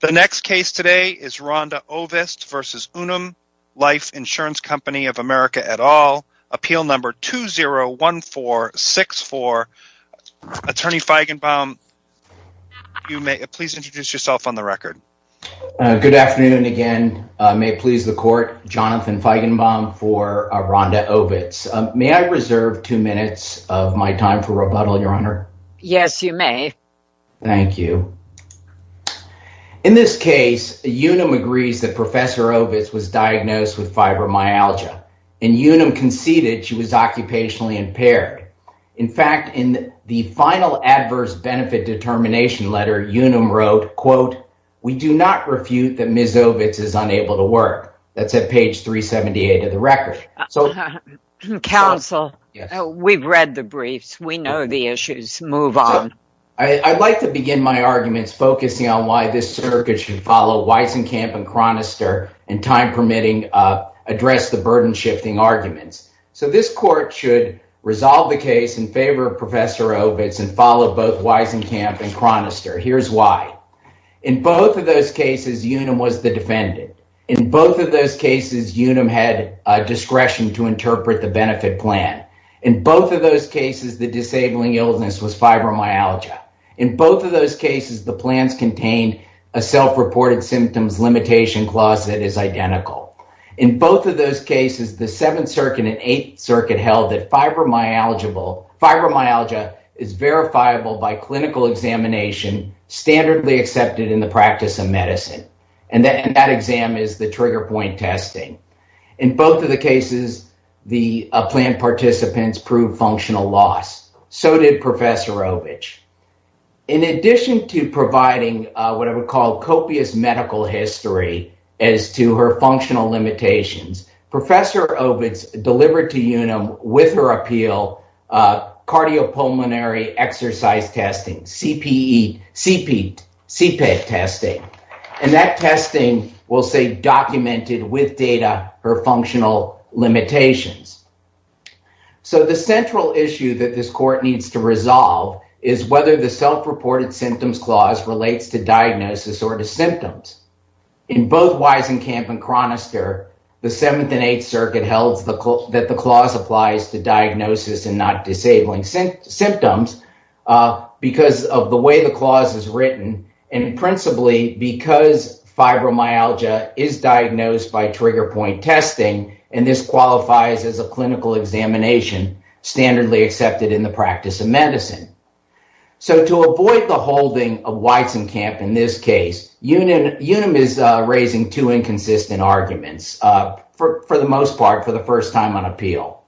The next case today is Rhonda Ovist v. Unum Life Insurance Co. of America et al. Appeal No. 201464. Attorney Feigenbaum, you may please introduce yourself on the record. Good afternoon again. May it please the court, Jonathan Feigenbaum for Rhonda Ovist. May I reserve two minutes of my time for rebuttal, Your Honor? Yes, you may. Thank you. In this case, Unum agrees that Professor Ovist was diagnosed with fibromyalgia and Unum conceded she was occupationally impaired. In fact, in the final adverse benefit determination letter, Unum wrote, quote, We do not refute that Ms. Ovist is unable to work. That's at page 378 of the record. Counsel, we've read the briefs. We know the move on. I'd like to begin my arguments focusing on why this circuit should follow Weisenkamp and Chronister and, time permitting, address the burden-shifting arguments. This court should resolve the case in favor of Professor Ovist and follow both Weisenkamp and Chronister. Here's why. In both of those cases, Unum was the defendant. In both of those cases, Unum had discretion to was fibromyalgia. In both of those cases, the plans contained a self-reported symptoms limitation clause that is identical. In both of those cases, the Seventh Circuit and Eighth Circuit held that fibromyalgia is verifiable by clinical examination, standardly accepted in the practice of medicine, and that exam is the trigger point testing. In both of the cases, the plan participants proved functional loss. So did Professor Ovist. In addition to providing what I would call copious medical history as to her functional limitations, Professor Ovist delivered to Unum, with her appeal, cardiopulmonary exercise testing, CPET testing. And that testing will say documented with data her functional limitations. So the central issue that this court needs to resolve is whether the self-reported symptoms clause relates to diagnosis or to symptoms. In both Weisenkamp and Chronister, the Seventh and Eighth Circuit held that the clause applies to diagnosis and not disabling symptoms because of way the clause is written, and principally because fibromyalgia is diagnosed by trigger point testing, and this qualifies as a clinical examination, standardly accepted in the practice of medicine. So to avoid the holding of Weisenkamp in this case, Unum is raising two inconsistent arguments, for the most part, for the first time on appeal.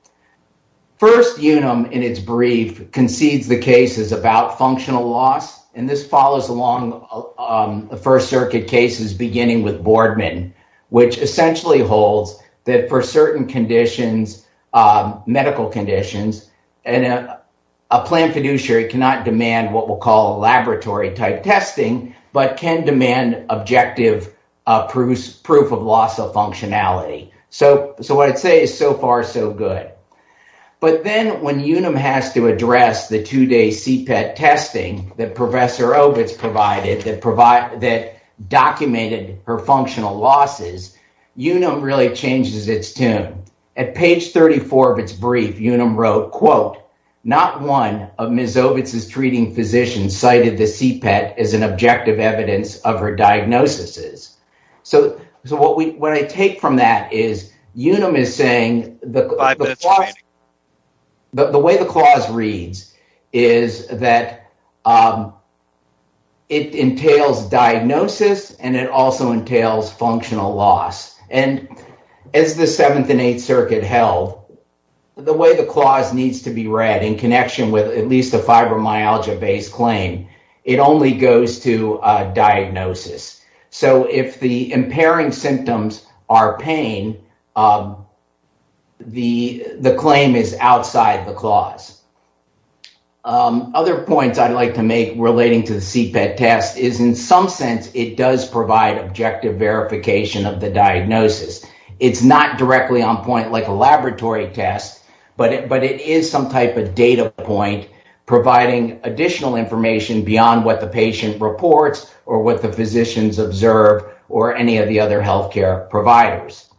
First, Unum, in its brief, concedes the case is about functional loss, and this follows along the First Circuit cases, beginning with Boardman, which essentially holds that for certain conditions, medical conditions, and a planned fiduciary cannot demand what we'll call laboratory-type testing, but can demand objective proof of loss of functionality. So what I'd say is so far so good. But then when Unum has to address the two-day CPET testing that Professor Ovitz provided that documented her functional losses, Unum really changes its tune. At page 34 of its brief, Unum wrote, quote, not one of Ms. Ovitz's treating physicians cited the CPET as an objective evidence of her diagnoses. So what I take from that is Unum is saying that the way the clause reads is that it entails diagnosis, and it also entails functional loss. And as the Seventh and Eighth Circuit held, the way the clause needs to be read in connection with at least a fibromyalgia-based claim, it only goes to diagnosis. So if the impairing symptoms are pain, the claim is outside the clause. Other points I'd like to make relating to the CPET test is in some sense it does provide objective verification of the diagnosis. It's not directly on point like a laboratory test, but it is some type of data point providing additional information beyond what the patient reports or what the physicians observe or any of other health care providers.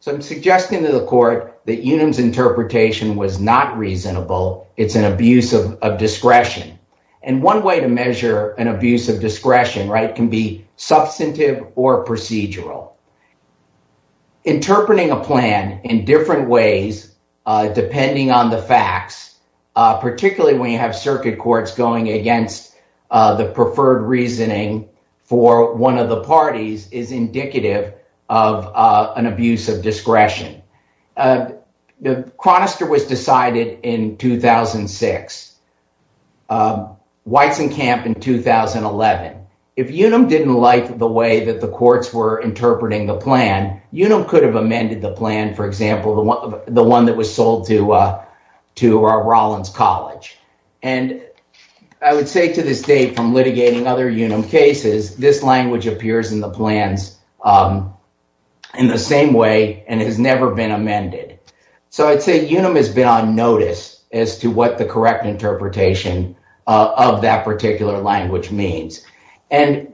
So I'm suggesting to the court that Unum's interpretation was not reasonable. It's an abuse of discretion. And one way to measure an abuse of discretion can be substantive or procedural. Interpreting a plan in different ways, depending on the facts, particularly when you have circuit courts going against the preferred reasoning for one of the of an abuse of discretion. Chronister was decided in 2006, Weizenkamp in 2011. If Unum didn't like the way that the courts were interpreting the plan, Unum could have amended the plan, for example, the one that was sold to Rollins College. And I would say to this Unum has been on notice as to what the correct interpretation of that particular language means. And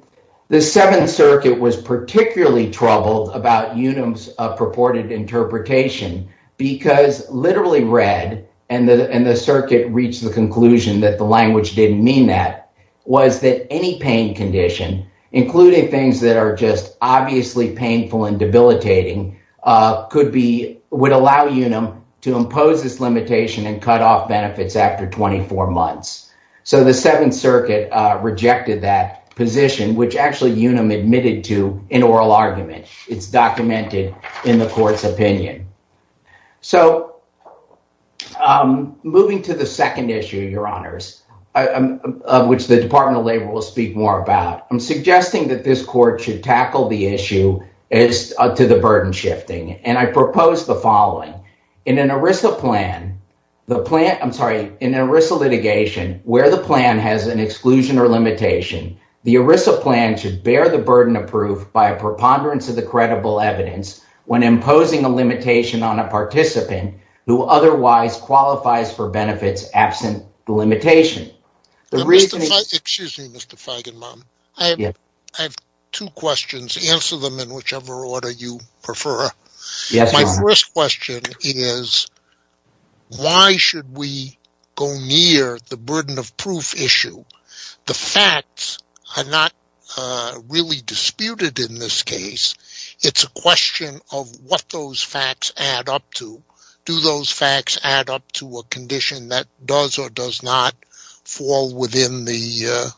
the Seventh Circuit was particularly troubled about Unum's purported interpretation, because literally read and the circuit reached the conclusion that the language didn't mean that, was that any pain condition, including things that are just obviously painful and debilitating, would allow Unum to impose this limitation and cut off benefits after 24 months. So the Seventh Circuit rejected that position, which actually Unum admitted to in oral argument. It's documented in the court's opinion. So moving to the second issue, Your Department of Labor will speak more about. I'm suggesting that this court should tackle the issue as to the burden shifting, and I propose the following. In an ERISA litigation, where the plan has an exclusion or limitation, the ERISA plan should bear the burden of proof by a preponderance of the credible evidence when imposing a limitation on a participant who otherwise qualifies for benefits absent the limitation. Excuse me, Mr. Feigenbaum. I have two questions. Answer them in whichever order you prefer. My first question is, why should we go near the burden of proof issue? The facts are not really disputed in this case. It's a question of what those facts add up to. Do those facts add up to a condition that does or does not fall within the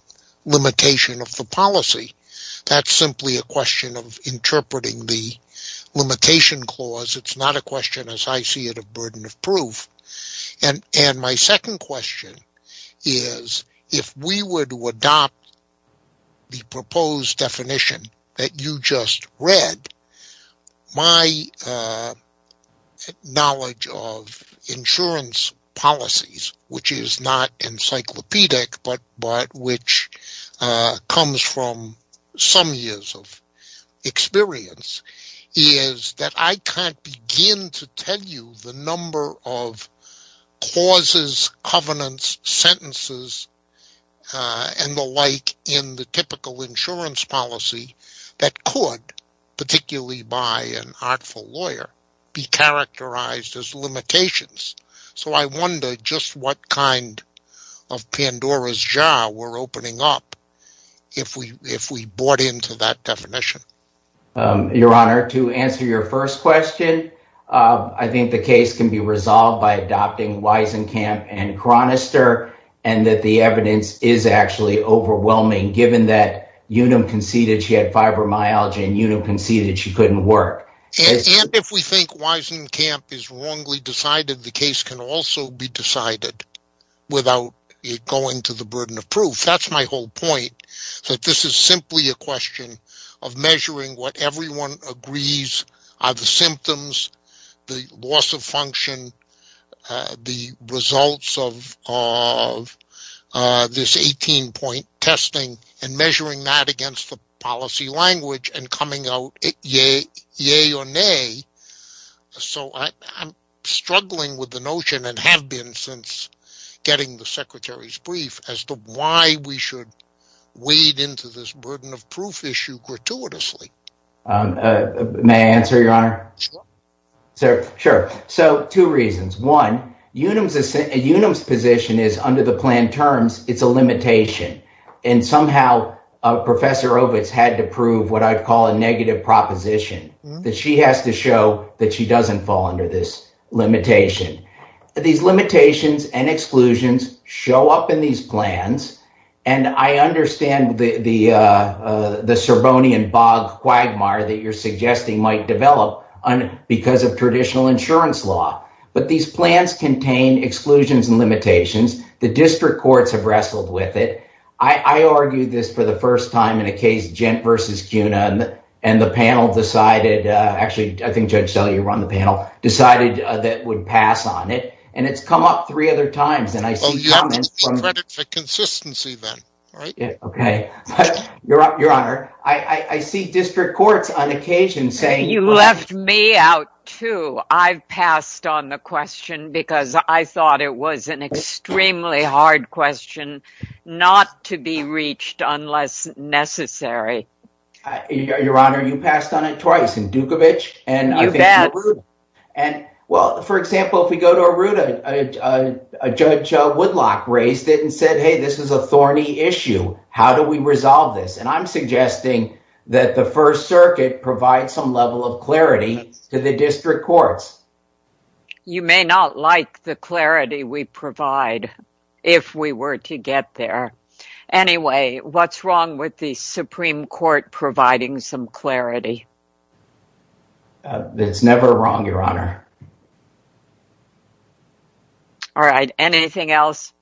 limitation of the policy? That's simply a question of interpreting the limitation clause. It's not a question, as I see it, of burden of proof. My second question is, if we were to adopt the proposed definition that you just read, my knowledge of insurance policies, which is not the number of clauses, covenants, sentences, and the like in the typical insurance policy that could, particularly by an artful lawyer, be characterized as limitations. I wonder just what kind of Pandora's jar we're opening up if we bought into that definition. Your Honor, to answer your first question, I think the case can be resolved by adopting Wiesenkamp and Chronister, and that the evidence is actually overwhelming, given that Unum conceded she had fibromyalgia and Unum conceded she couldn't work. If we think Wiesenkamp is wrongly decided, the case can also be decided without it going to the burden of proof. That's my whole point, that this is simply a question of measuring what everyone agrees are the symptoms, the loss of function, the results of this 18-point testing, and measuring that against the policy language and coming out yay or nay. So I'm struggling with the notion, and have been getting the Secretary's brief, as to why we should wade into this burden of proof issue gratuitously. May I answer, Your Honor? Sure. Sure. So two reasons. One, Unum's position is, under the planned terms, it's a limitation, and somehow Professor Ovitz had to prove what I'd call a negative proposition, that she has to show that she doesn't fall under this limitation. These limitations and exclusions show up in these plans, and I understand the Serbonian bog quagmire that you're suggesting might develop because of traditional insurance law, but these plans contain exclusions and limitations. The district courts have wrestled with it. I argued this for the first time in a case, Gent v. CUNA, and the panel decided, actually, I think Judge Della, you were on the panel, decided that would pass on it, and it's come up three other times. Well, you have to credit for consistency then, right? Okay. Your Honor, I see district courts on occasion saying- You left me out too. I've passed on the question because I thought it was an extremely hard question not to be reached unless necessary. Your Honor, you passed on it twice in Dukovic and- You bet. Well, for example, if we go to Arruda, Judge Woodlock raised it and said, hey, this is a thorny issue. How do we resolve this? I'm suggesting that the First Circuit provide some level of clarity to the district courts. You may not like the clarity we provide if we were to get there. Anyway, what's wrong with the Supreme Court providing some clarity? It's never wrong, Your Honor. All right. Anything else?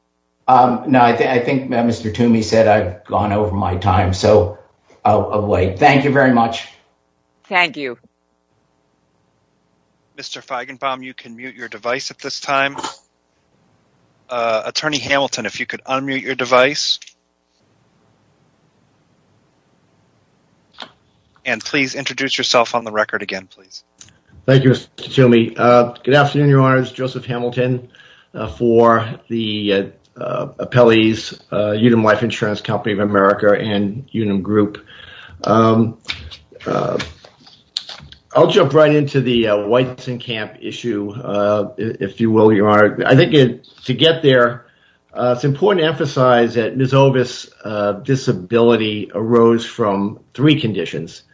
No. I think Mr. Toomey said I've gone over my time, so I'll wait. Thank you very much. Thank you. Mr. Feigenbaum, you can mute your device at this time. Attorney Hamilton, if you could unmute your device. And please introduce yourself on the record again, please. Thank you, Mr. Toomey. Good afternoon, Your Honor. This is Joseph Hamilton for the appellees, Unum Life Insurance Company of America and Unum Group. I'll jump right into the Weitzenkamp issue, if you will, Your Honor. I think to get there, it's important to emphasize that Ms. Ovis' disability arose from three conditions,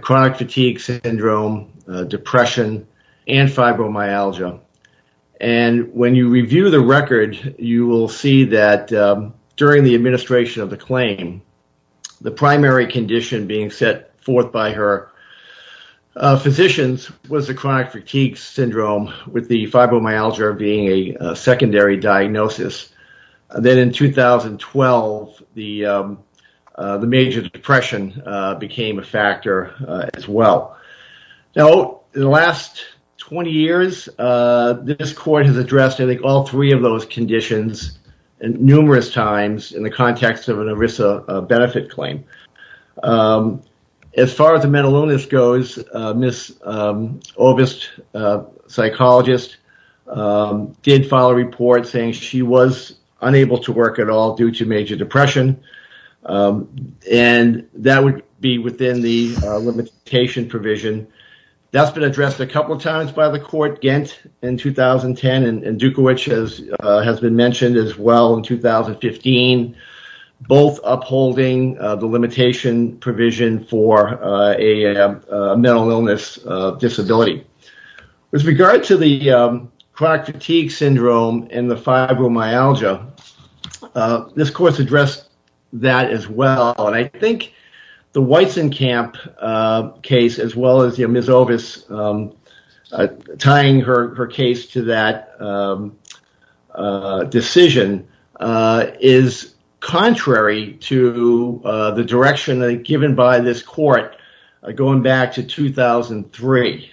chronic fatigue syndrome, depression, and fibromyalgia. When you review the record, you will see that during the administration of the claim, the primary condition being set forth by her physicians was a chronic fatigue syndrome with the fibromyalgia being a secondary diagnosis. Then in 2012, the major depression became a factor as well. Now, in the last 20 years, this court has addressed all three of those conditions numerous times in the context of mental illness. As far as mental illness goes, Ms. Ovis' psychologist did file a report saying she was unable to work at all due to major depression, and that would be within the limitation provision. That's been addressed a couple of times by the court, Gantt in 2010, and Dukovic has been mentioned as well in 2015, both upholding the limitation provision for mental illness disability. With regard to the chronic fatigue syndrome and the fibromyalgia, this court has addressed that as well. I think the Weizenkamp case, as well as Ms. Ovis' case, tying her case to that decision is contrary to the direction given by this court going back to 2003.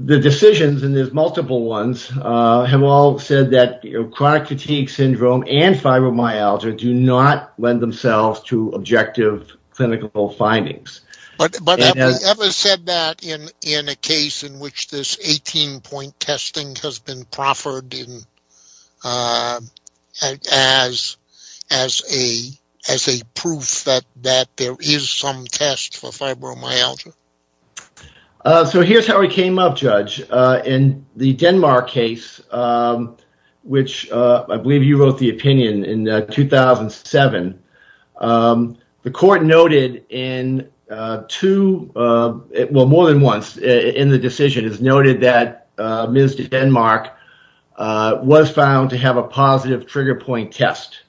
The decisions, and there are multiple ones, have all said that chronic fatigue syndrome and fibromyalgia do not lend themselves to objective clinical findings. But have we ever said that in a case in which this 18-point testing has been proffered as a proof that there is some test for fibromyalgia? Here's how it came up, Judge. In the Denmark case, which I believe you wrote the opinion in 2007, the court noted in two, well, more than once in the decision has noted that Ms. Denmark was found to have a positive trigger point test.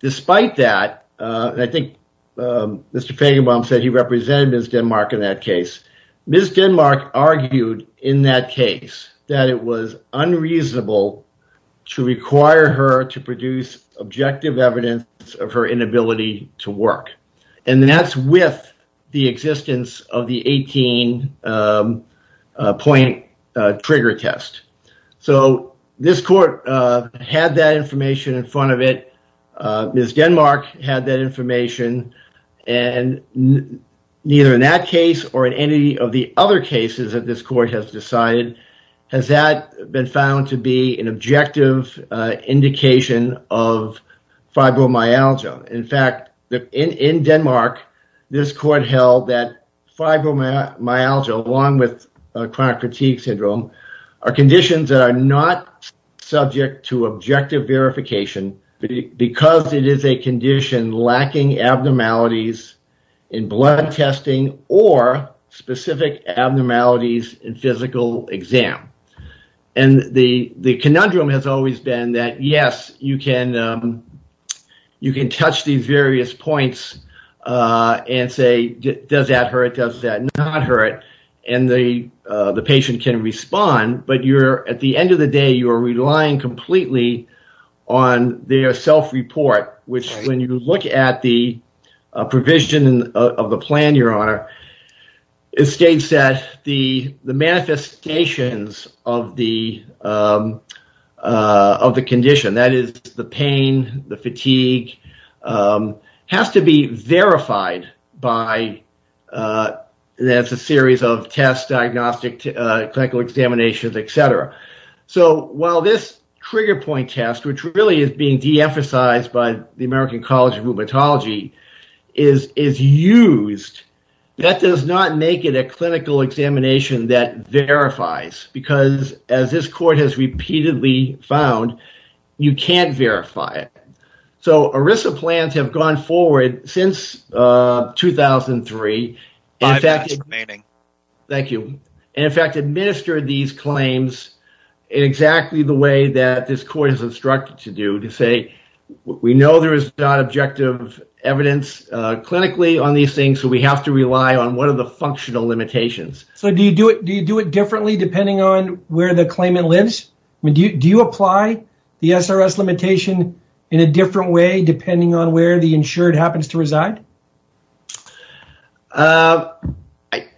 Despite that, I think Mr. Fagenbaum said he represented Ms. Denmark in that case. Ms. Denmark argued in that case that it was unreasonable to require her to produce objective evidence of her inability to work. That's with the existence of the 18-point trigger test. This court had that information in front of it. Ms. Denmark had that information. Neither in that case or in any of the other cases that this court has decided has that been found to be an objective indication of fibromyalgia. In fact, in Denmark, this court held that fibromyalgia, along with chronic fatigue syndrome, are conditions that are not subject to objective verification because it is a condition lacking abnormalities in blood testing or specific abnormalities in physical exam. The conundrum has always been that, yes, you can touch these various points and say, does that hurt? Does that not hurt? The patient can respond, but at the end of the day, you are relying completely on their self-report, which when you look at the provision of the plan, Your Honor, it states that the manifestations of the condition, that is the pain, the fatigue, has to be verified by a series of tests, diagnostic, clinical examinations, etc. So, while this trigger point test, which really is being de-emphasized by the American College of Rheumatology, is used, that does not make it a clinical examination that verifies because, as this court has repeatedly found, you can't verify it. So, ERISA plans have gone forward since 2003 and, in fact, administered these claims in exactly the way that this court has instructed to do, to say, we know there is not objective evidence clinically on these things, so we have to rely on one of the functional limitations. So, do you do it differently depending on where the claimant lives? Do you apply the SRS limitation in a different way depending on where the insured happens to reside?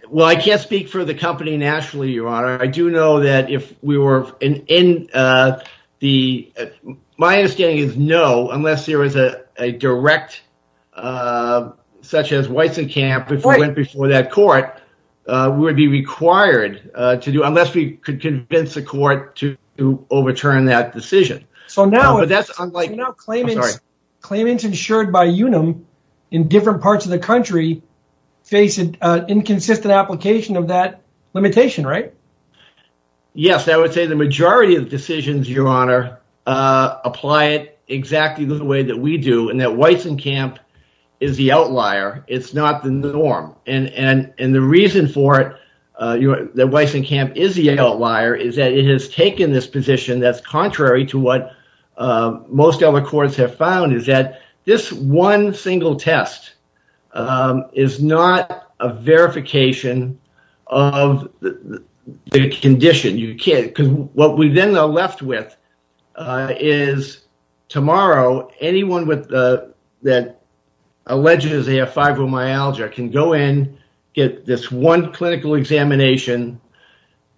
Well, I can't speak for the company nationally, Your Honor. My understanding is no, unless there was a direct, such as Weissenkamp, if it went before that court, we would be required to do, unless we could convince the court to overturn that decision. So, now claimants insured by UNUM in different parts of the country face an inconsistent application of that limitation, right? Yes, I would say the majority of decisions, Your Honor, apply it exactly the way that we do, and that Weissenkamp is the outlier. It's not the norm, and the reason for it, that Weissenkamp is the outlier, is that it has taken this position that's contrary to what most other courts have found, is that this one single test is not a verification of the condition. Because what we then are left with is, tomorrow, anyone that alleges they have fibromyalgia can go in, get this one clinical examination,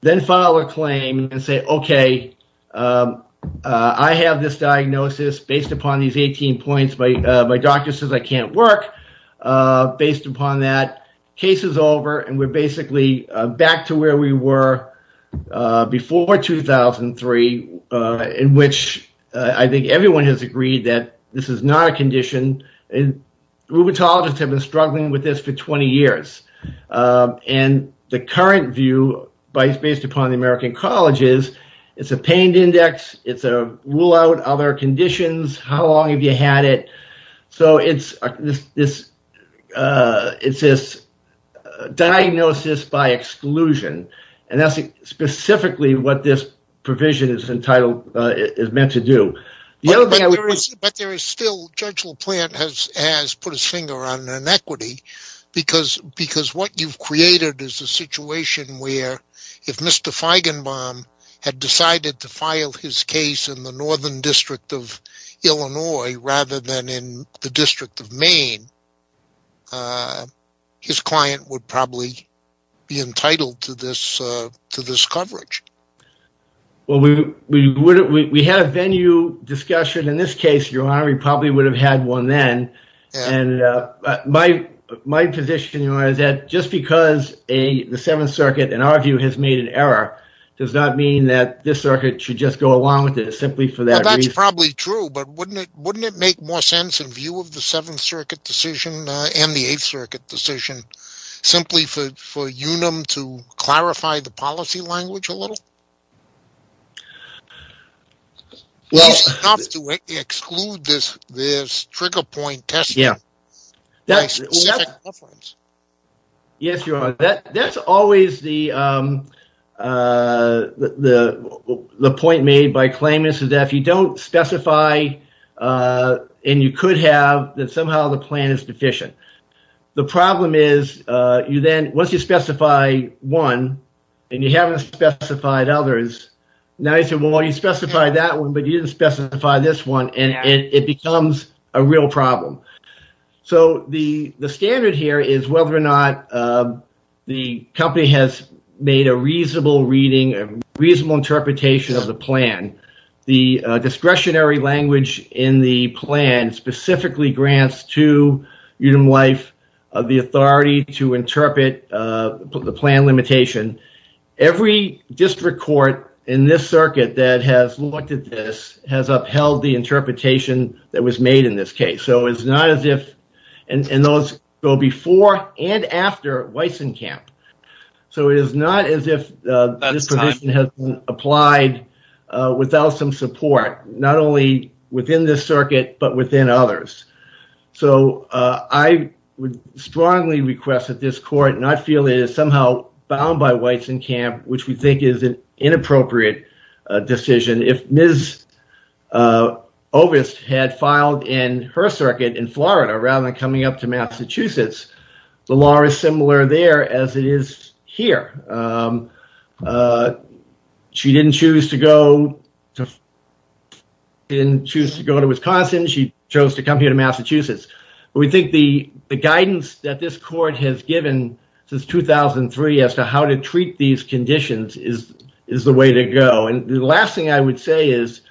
then file a claim and say, okay, I have this diagnosis based upon these 18 points. My doctor says I can't work based upon that. Case is over, and we're basically back to where we were before 2003, in which I think everyone has agreed that this is not a condition. Rheumatologists have been struggling with this for 20 years, and the current view based upon the American College is, it's a pain index, it's a rule out other conditions, how long have you had it? So it's this diagnosis by exclusion, and that's specifically what this provision is meant to do. But there is still, Judge LaPlante has put his finger on inequity, because what you've created is a situation where if Mr. Feigenbaum had decided to file his case in the Northern District of Illinois rather than in the District of Maine, his client would probably be entitled to this coverage. We had a venue discussion in this case, Your Honor, we probably would have had one then. My position, Your Honor, is that just because the Seventh Circuit, in our view, has made an error, does not mean that this circuit should just go along with it, simply for that reason. That's probably true, but wouldn't it make more sense in view of the Seventh Circuit decision, and the Eighth Circuit decision, simply for UNUM to clarify the policy language a little? Do we have to exclude this trigger point testing? Yes, Your Honor, that's always the point made by claimants, is that if you don't specify, and you could have, that somehow the plan is deficient. The problem is, once you specify one, and you haven't specified others, now you say, well, you specified that one, but you didn't specify this one, and it becomes a real problem. The standard here is whether or not the company has made a reasonable reading, a reasonable interpretation of the plan. The discretionary language in the plan specifically grants to UNUM Life the authority to interpret the plan limitation. Every district court in this circuit that has looked at this has upheld the interpretation that was made in this case, so it's not as if, and those go before and after Weissenkamp, so it is not as if this position has been applied without some support, not only within this circuit, but within others. So, I would strongly request that this court, and I feel it is somehow bound by Weissenkamp, which we think is an inappropriate decision. If Mrs. Ovist had filed in her circuit in Florida, rather than coming up to Massachusetts, the law is similar there as it is here. She didn't choose to go to Wisconsin. She chose to come here to Massachusetts. We think the guidance that this court has given since 2003 as to how to treat these conditions is the way to go. The last thing I would say is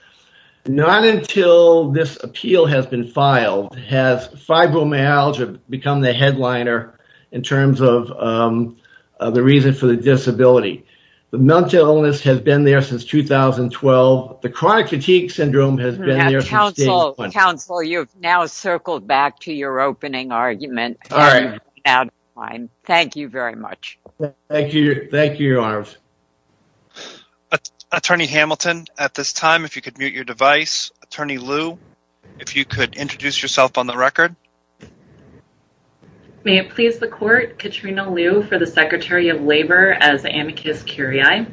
not until this appeal has been filed has fibromyalgia become the headliner in terms of the reason for the disability. The mental illness has been there since 2012. The chronic fatigue syndrome has been there since day one. Counsel, you have now circled back to your opening argument. All right. Thank you very much. Thank you, Your Honors. Attorney Hamilton, at this time, if you could mute your device. Attorney Liu, if you could introduce yourself on the record. May it please the court, Katrina Liu for the Secretary of Labor as amicus curiae.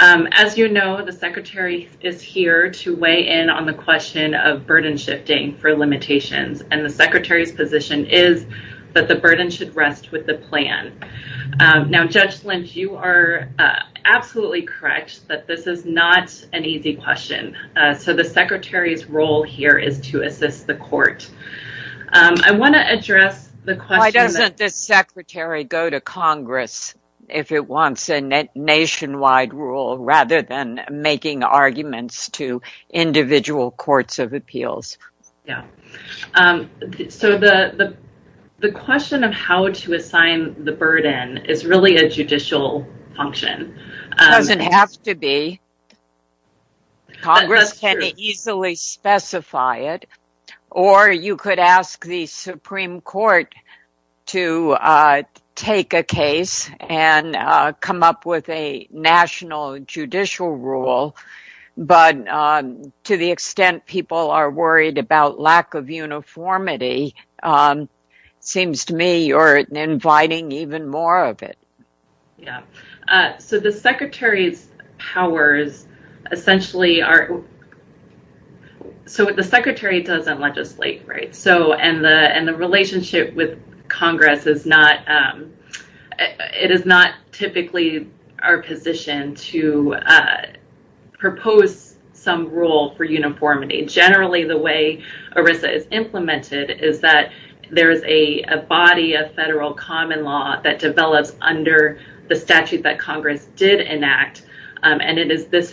As you know, the Secretary is here to weigh in on the question of burden shifting for limitations, and the Secretary's position is that the burden should rest with the plan. Now, Judge Lynch, you are absolutely correct that this is not an easy question. So, the Secretary's role here is to assist the court. I want to address the question— Why doesn't the Secretary go to Congress if it wants a nationwide rule rather than making arguments to individual courts of appeals? Yeah. So, the question of how to assign the burden is really a judicial function. It doesn't have to be. Congress can easily specify it, or you could ask the Supreme Court to take a case and come up with a national judicial rule. But to the extent people are worried about lack of uniformity, it seems to me you're inviting even more of it. Yeah. So, the Secretary's powers essentially are— So, the Secretary doesn't legislate, and the relationship with Congress is not— It is not typically our position to propose some rule for uniformity. Generally, the way ERISA is implemented is that there is a body of federal common law that develops under the statute that Congress did enact, and it is this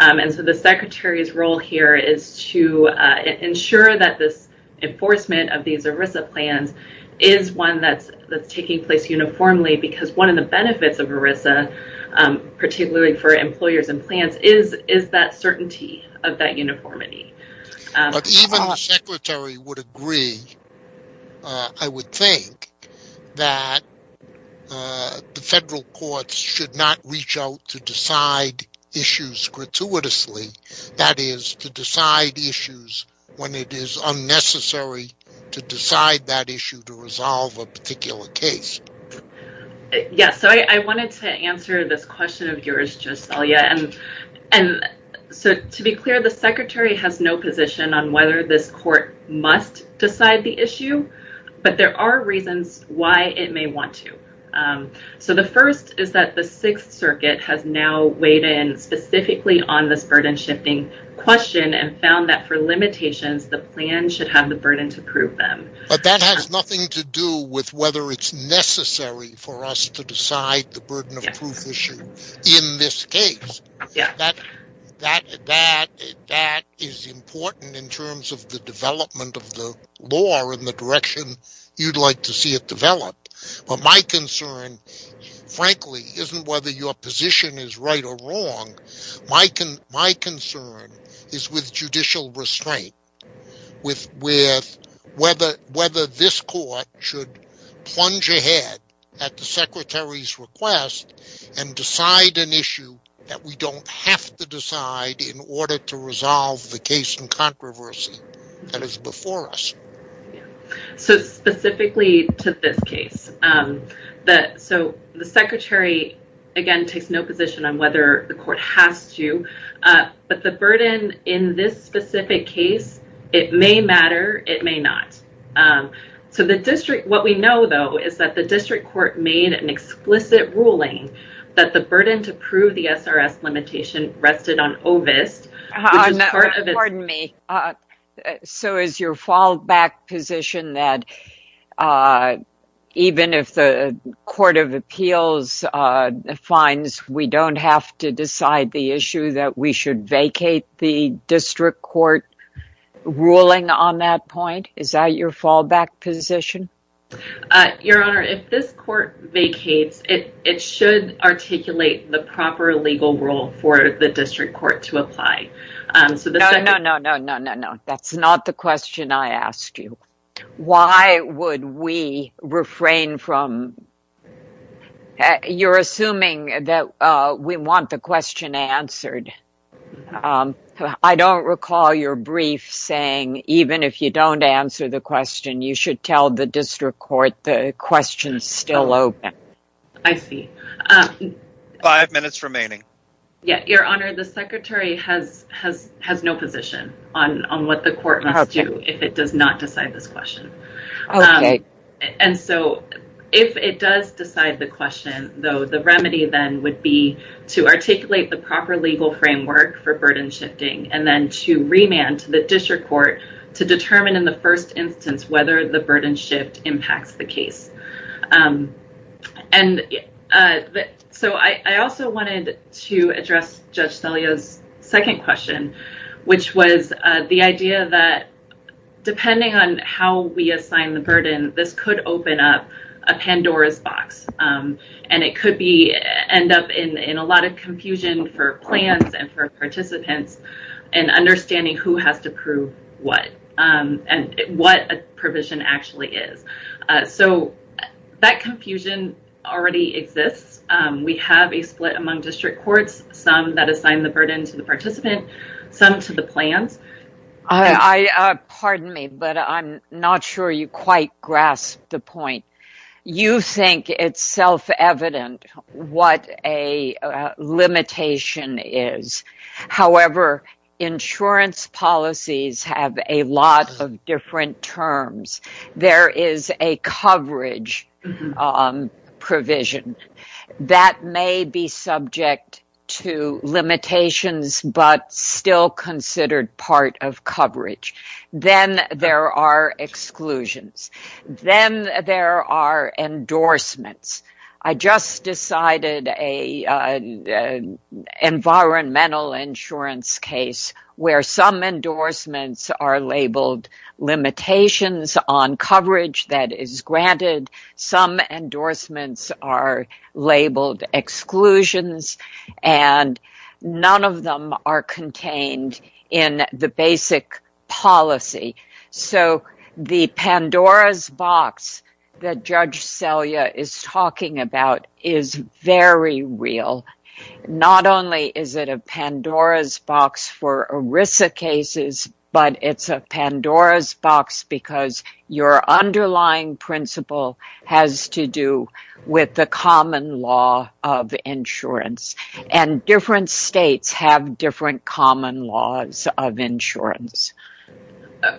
And so, the Secretary's role here is to ensure that this enforcement of these ERISA plans is one that's taking place uniformly, because one of the benefits of ERISA, particularly for employers and plants, is that certainty of that uniformity. But even the Secretary would agree, I would think, that the federal courts should not reach out to decide issues gratuitously, that is, to decide issues when it is unnecessary to decide that issue to resolve a particular case. Yeah. So, I wanted to answer this question of yours, Joselia. And so, to be clear, the Secretary has no position on whether this court must decide the burden of proof issue in this case. That is important in terms of the development of the law and the direction you'd like to see it develop. But my concern, frankly, isn't whether your position is right or wrong. My concern is with judicial restraint, with whether this court should plunge ahead at the Secretary's request and decide an issue that we don't have to decide in order to resolve the case in controversy that is before us. So, specifically to this case, that so the Secretary, again, takes no position on whether the court has to. But the burden in this specific case, it may matter, it may not. So, the district, what we know, though, is that the district court made an explicit ruling that the burden to prove the SRS limitation rested on OVIST. Pardon me. So, is your fallback position that even if the Court of Appeals finds we don't have to decide the issue, that we should vacate the district court ruling on that point? Is that your fallback position? Your Honor, if this court vacates, it should articulate the proper legal rule for the district court to apply. No, no, no, no, no, no. That's not the question I asked you. Why would we refrain from... You're assuming that we want the question answered. I don't recall your brief saying even if you don't answer the question, you should tell the district court the question is still open. I see. Five minutes remaining. Yeah, Your Honor, the Secretary has no position on what the court must do if it does not decide this question. And so, if it does decide the question, though, the remedy then would be to articulate the proper legal framework for burden shifting and then to remand to the district court to determine in the burden shift impacts the case. And so, I also wanted to address Judge Selia's second question, which was the idea that depending on how we assign the burden, this could open up a Pandora's box. And it could end up in a lot of confusion for plans and for participants and understanding who has to prove what and what a provision actually is. So, that confusion already exists. We have a split among district courts, some that assign the burden to the participant, some to the plans. Pardon me, but I'm not sure you quite grasp the insurance policies have a lot of different terms. There is a coverage provision that may be subject to limitations but still considered part of coverage. Then there are exclusions. Then there are endorsements. I just decided an environmental insurance case where some endorsements are labeled limitations on coverage that is granted. Some endorsements are labeled exclusions and none of them are contained in the basic policy. So, the Pandora's box that Judge Selia is talking about is very real. Not only is it a Pandora's box for ERISA cases, but it's a law of insurance. And different states have different common laws of insurance.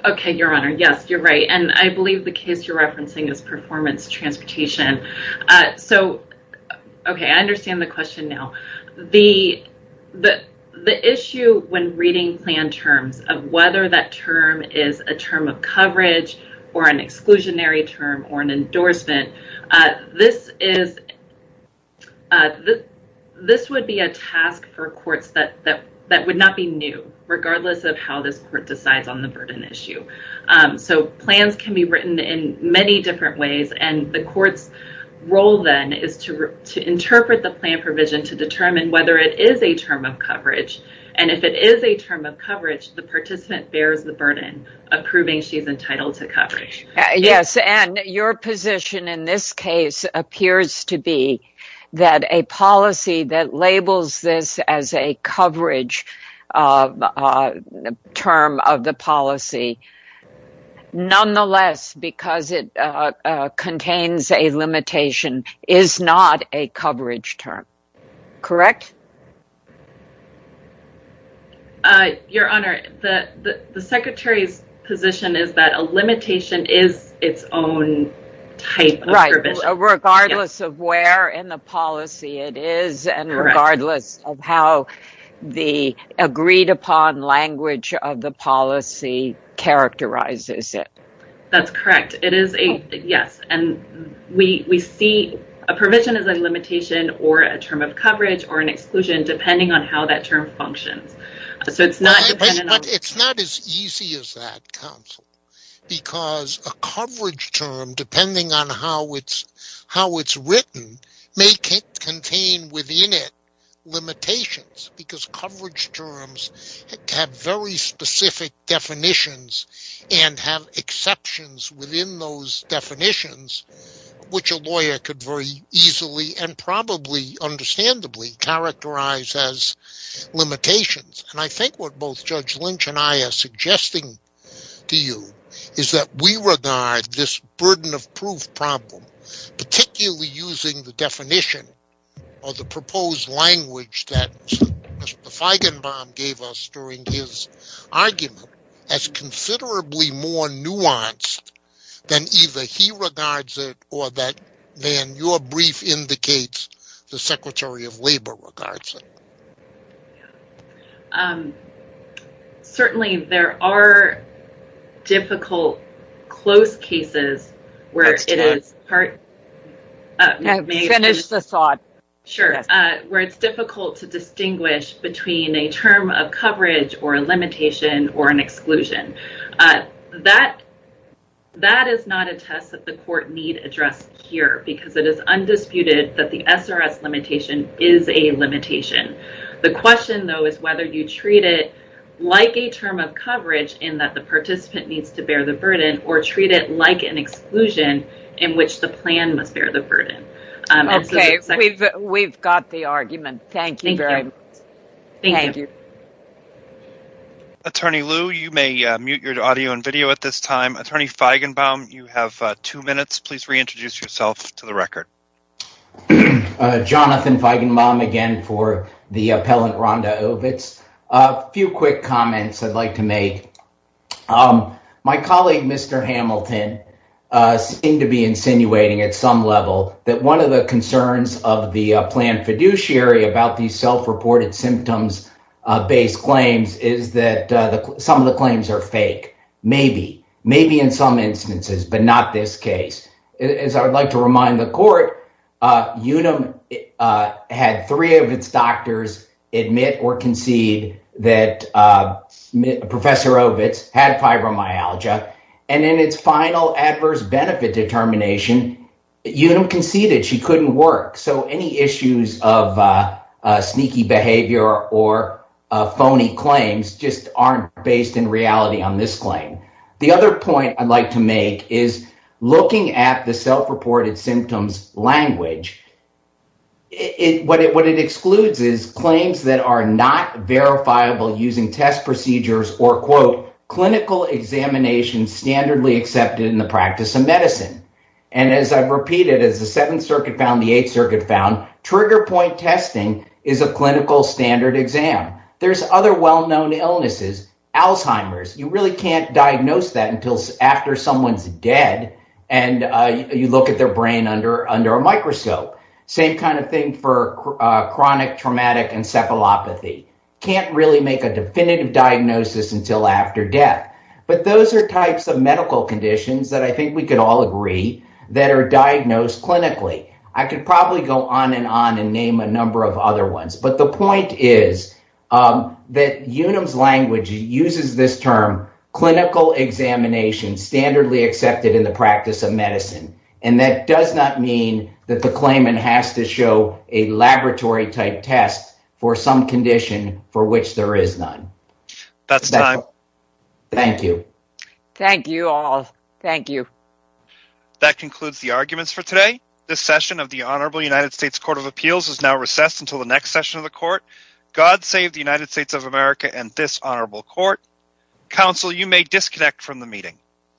Okay, Your Honor. Yes, you're right. And I believe the case you're referencing is performance transportation. So, okay, I understand the question now. The issue when reading plan terms of whether that term is a term of coverage or an exclusionary term or an endorsement, this would be a task for courts that would not be new regardless of how this court decides on the burden issue. So, plans can be written in many different ways. And the court's role then is to interpret the plan provision to determine whether it is a term of coverage. And if it is a term of coverage, the participant bears the burden of proving she's entitled to coverage. Yes, and your position in this case appears to be that a policy that labels this as a coverage term of the policy, nonetheless, because it contains a limitation, is not a coverage term. Correct? Your Honor, the Secretary's position is that a limitation is its own type. Right. Regardless of where in the policy it is and regardless of how the agreed upon language of the policy characterizes it. That's correct. It is a, yes. And we see a provision as a term of coverage or an exclusion, depending on how that term functions. It's not as easy as that, counsel, because a coverage term, depending on how it's written, may contain within it limitations. Because coverage terms have very specific definitions and have exceptions within those definitions, which a lawyer could very easily and probably understandably characterize as limitations. And I think what both Judge Lynch and I are suggesting to you is that we regard this burden of proof problem, particularly using the definition of the proposed language that Mr. Feigenbaum gave us during his argument, as considerably more labor-related. Certainly, there are difficult, close cases where it's difficult to distinguish between a term of coverage or a limitation or an exclusion. That is not a test that the court need address here, because it is undisputed that the SRS limitation is a limitation. The question, though, is whether you treat it like a term of coverage in that the participant needs to bear the burden or treat it like an exclusion in which the plan must bear the burden. Okay. We've got the argument. Thank you very much. Thank you. Attorney Lew, you may mute your audio and video at this time. Attorney Feigenbaum, you have two minutes. Please reintroduce yourself to the record. Jonathan Feigenbaum again for the appellant Rhonda Ovitz. A few quick comments I'd like to make. My colleague, Mr. Hamilton, seemed to be insinuating at some level that one of the concerns of the planned fiduciary about these self-reported symptoms-based claims is that some of the claims are fake. Maybe. Maybe in some instances, but not this case. As I would like to remind the court, Unum had three of its doctors admit or concede that Professor Ovitz had fibromyalgia. In its final adverse benefit determination, Unum conceded she couldn't work. So, any issues of sneaky behavior or phony claims just aren't based in reality on this claim. The other point I'd like to make is looking at the self-reported symptoms language, what it excludes is claims that are not verifiable using test procedures or, quote, clinical examinations standardly accepted in the practice of medicine. And as I've repeated, as the Seventh Circuit found, the Eighth Circuit found, trigger point testing is a clinical standard exam. There's other well-known illnesses, Alzheimer's. You really can't diagnose that until after someone's dead and you look at their brain under a microscope. Same kind of thing for chronic traumatic encephalopathy. Can't really make a definitive diagnosis until after death. But those are types of medical conditions that I on and name a number of other ones. But the point is that Unum's language uses this term clinical examination standardly accepted in the practice of medicine. And that does not mean that the claimant has to show a laboratory-type test for some condition for which there is none. That's time. Thank you. Thank you all. Thank you. That concludes the arguments for today. This session of the Honorable United States Court of Appeals is now recessed until the next session of the court. God save the United States of America and this honorable court. Counsel, you may disconnect from the meeting.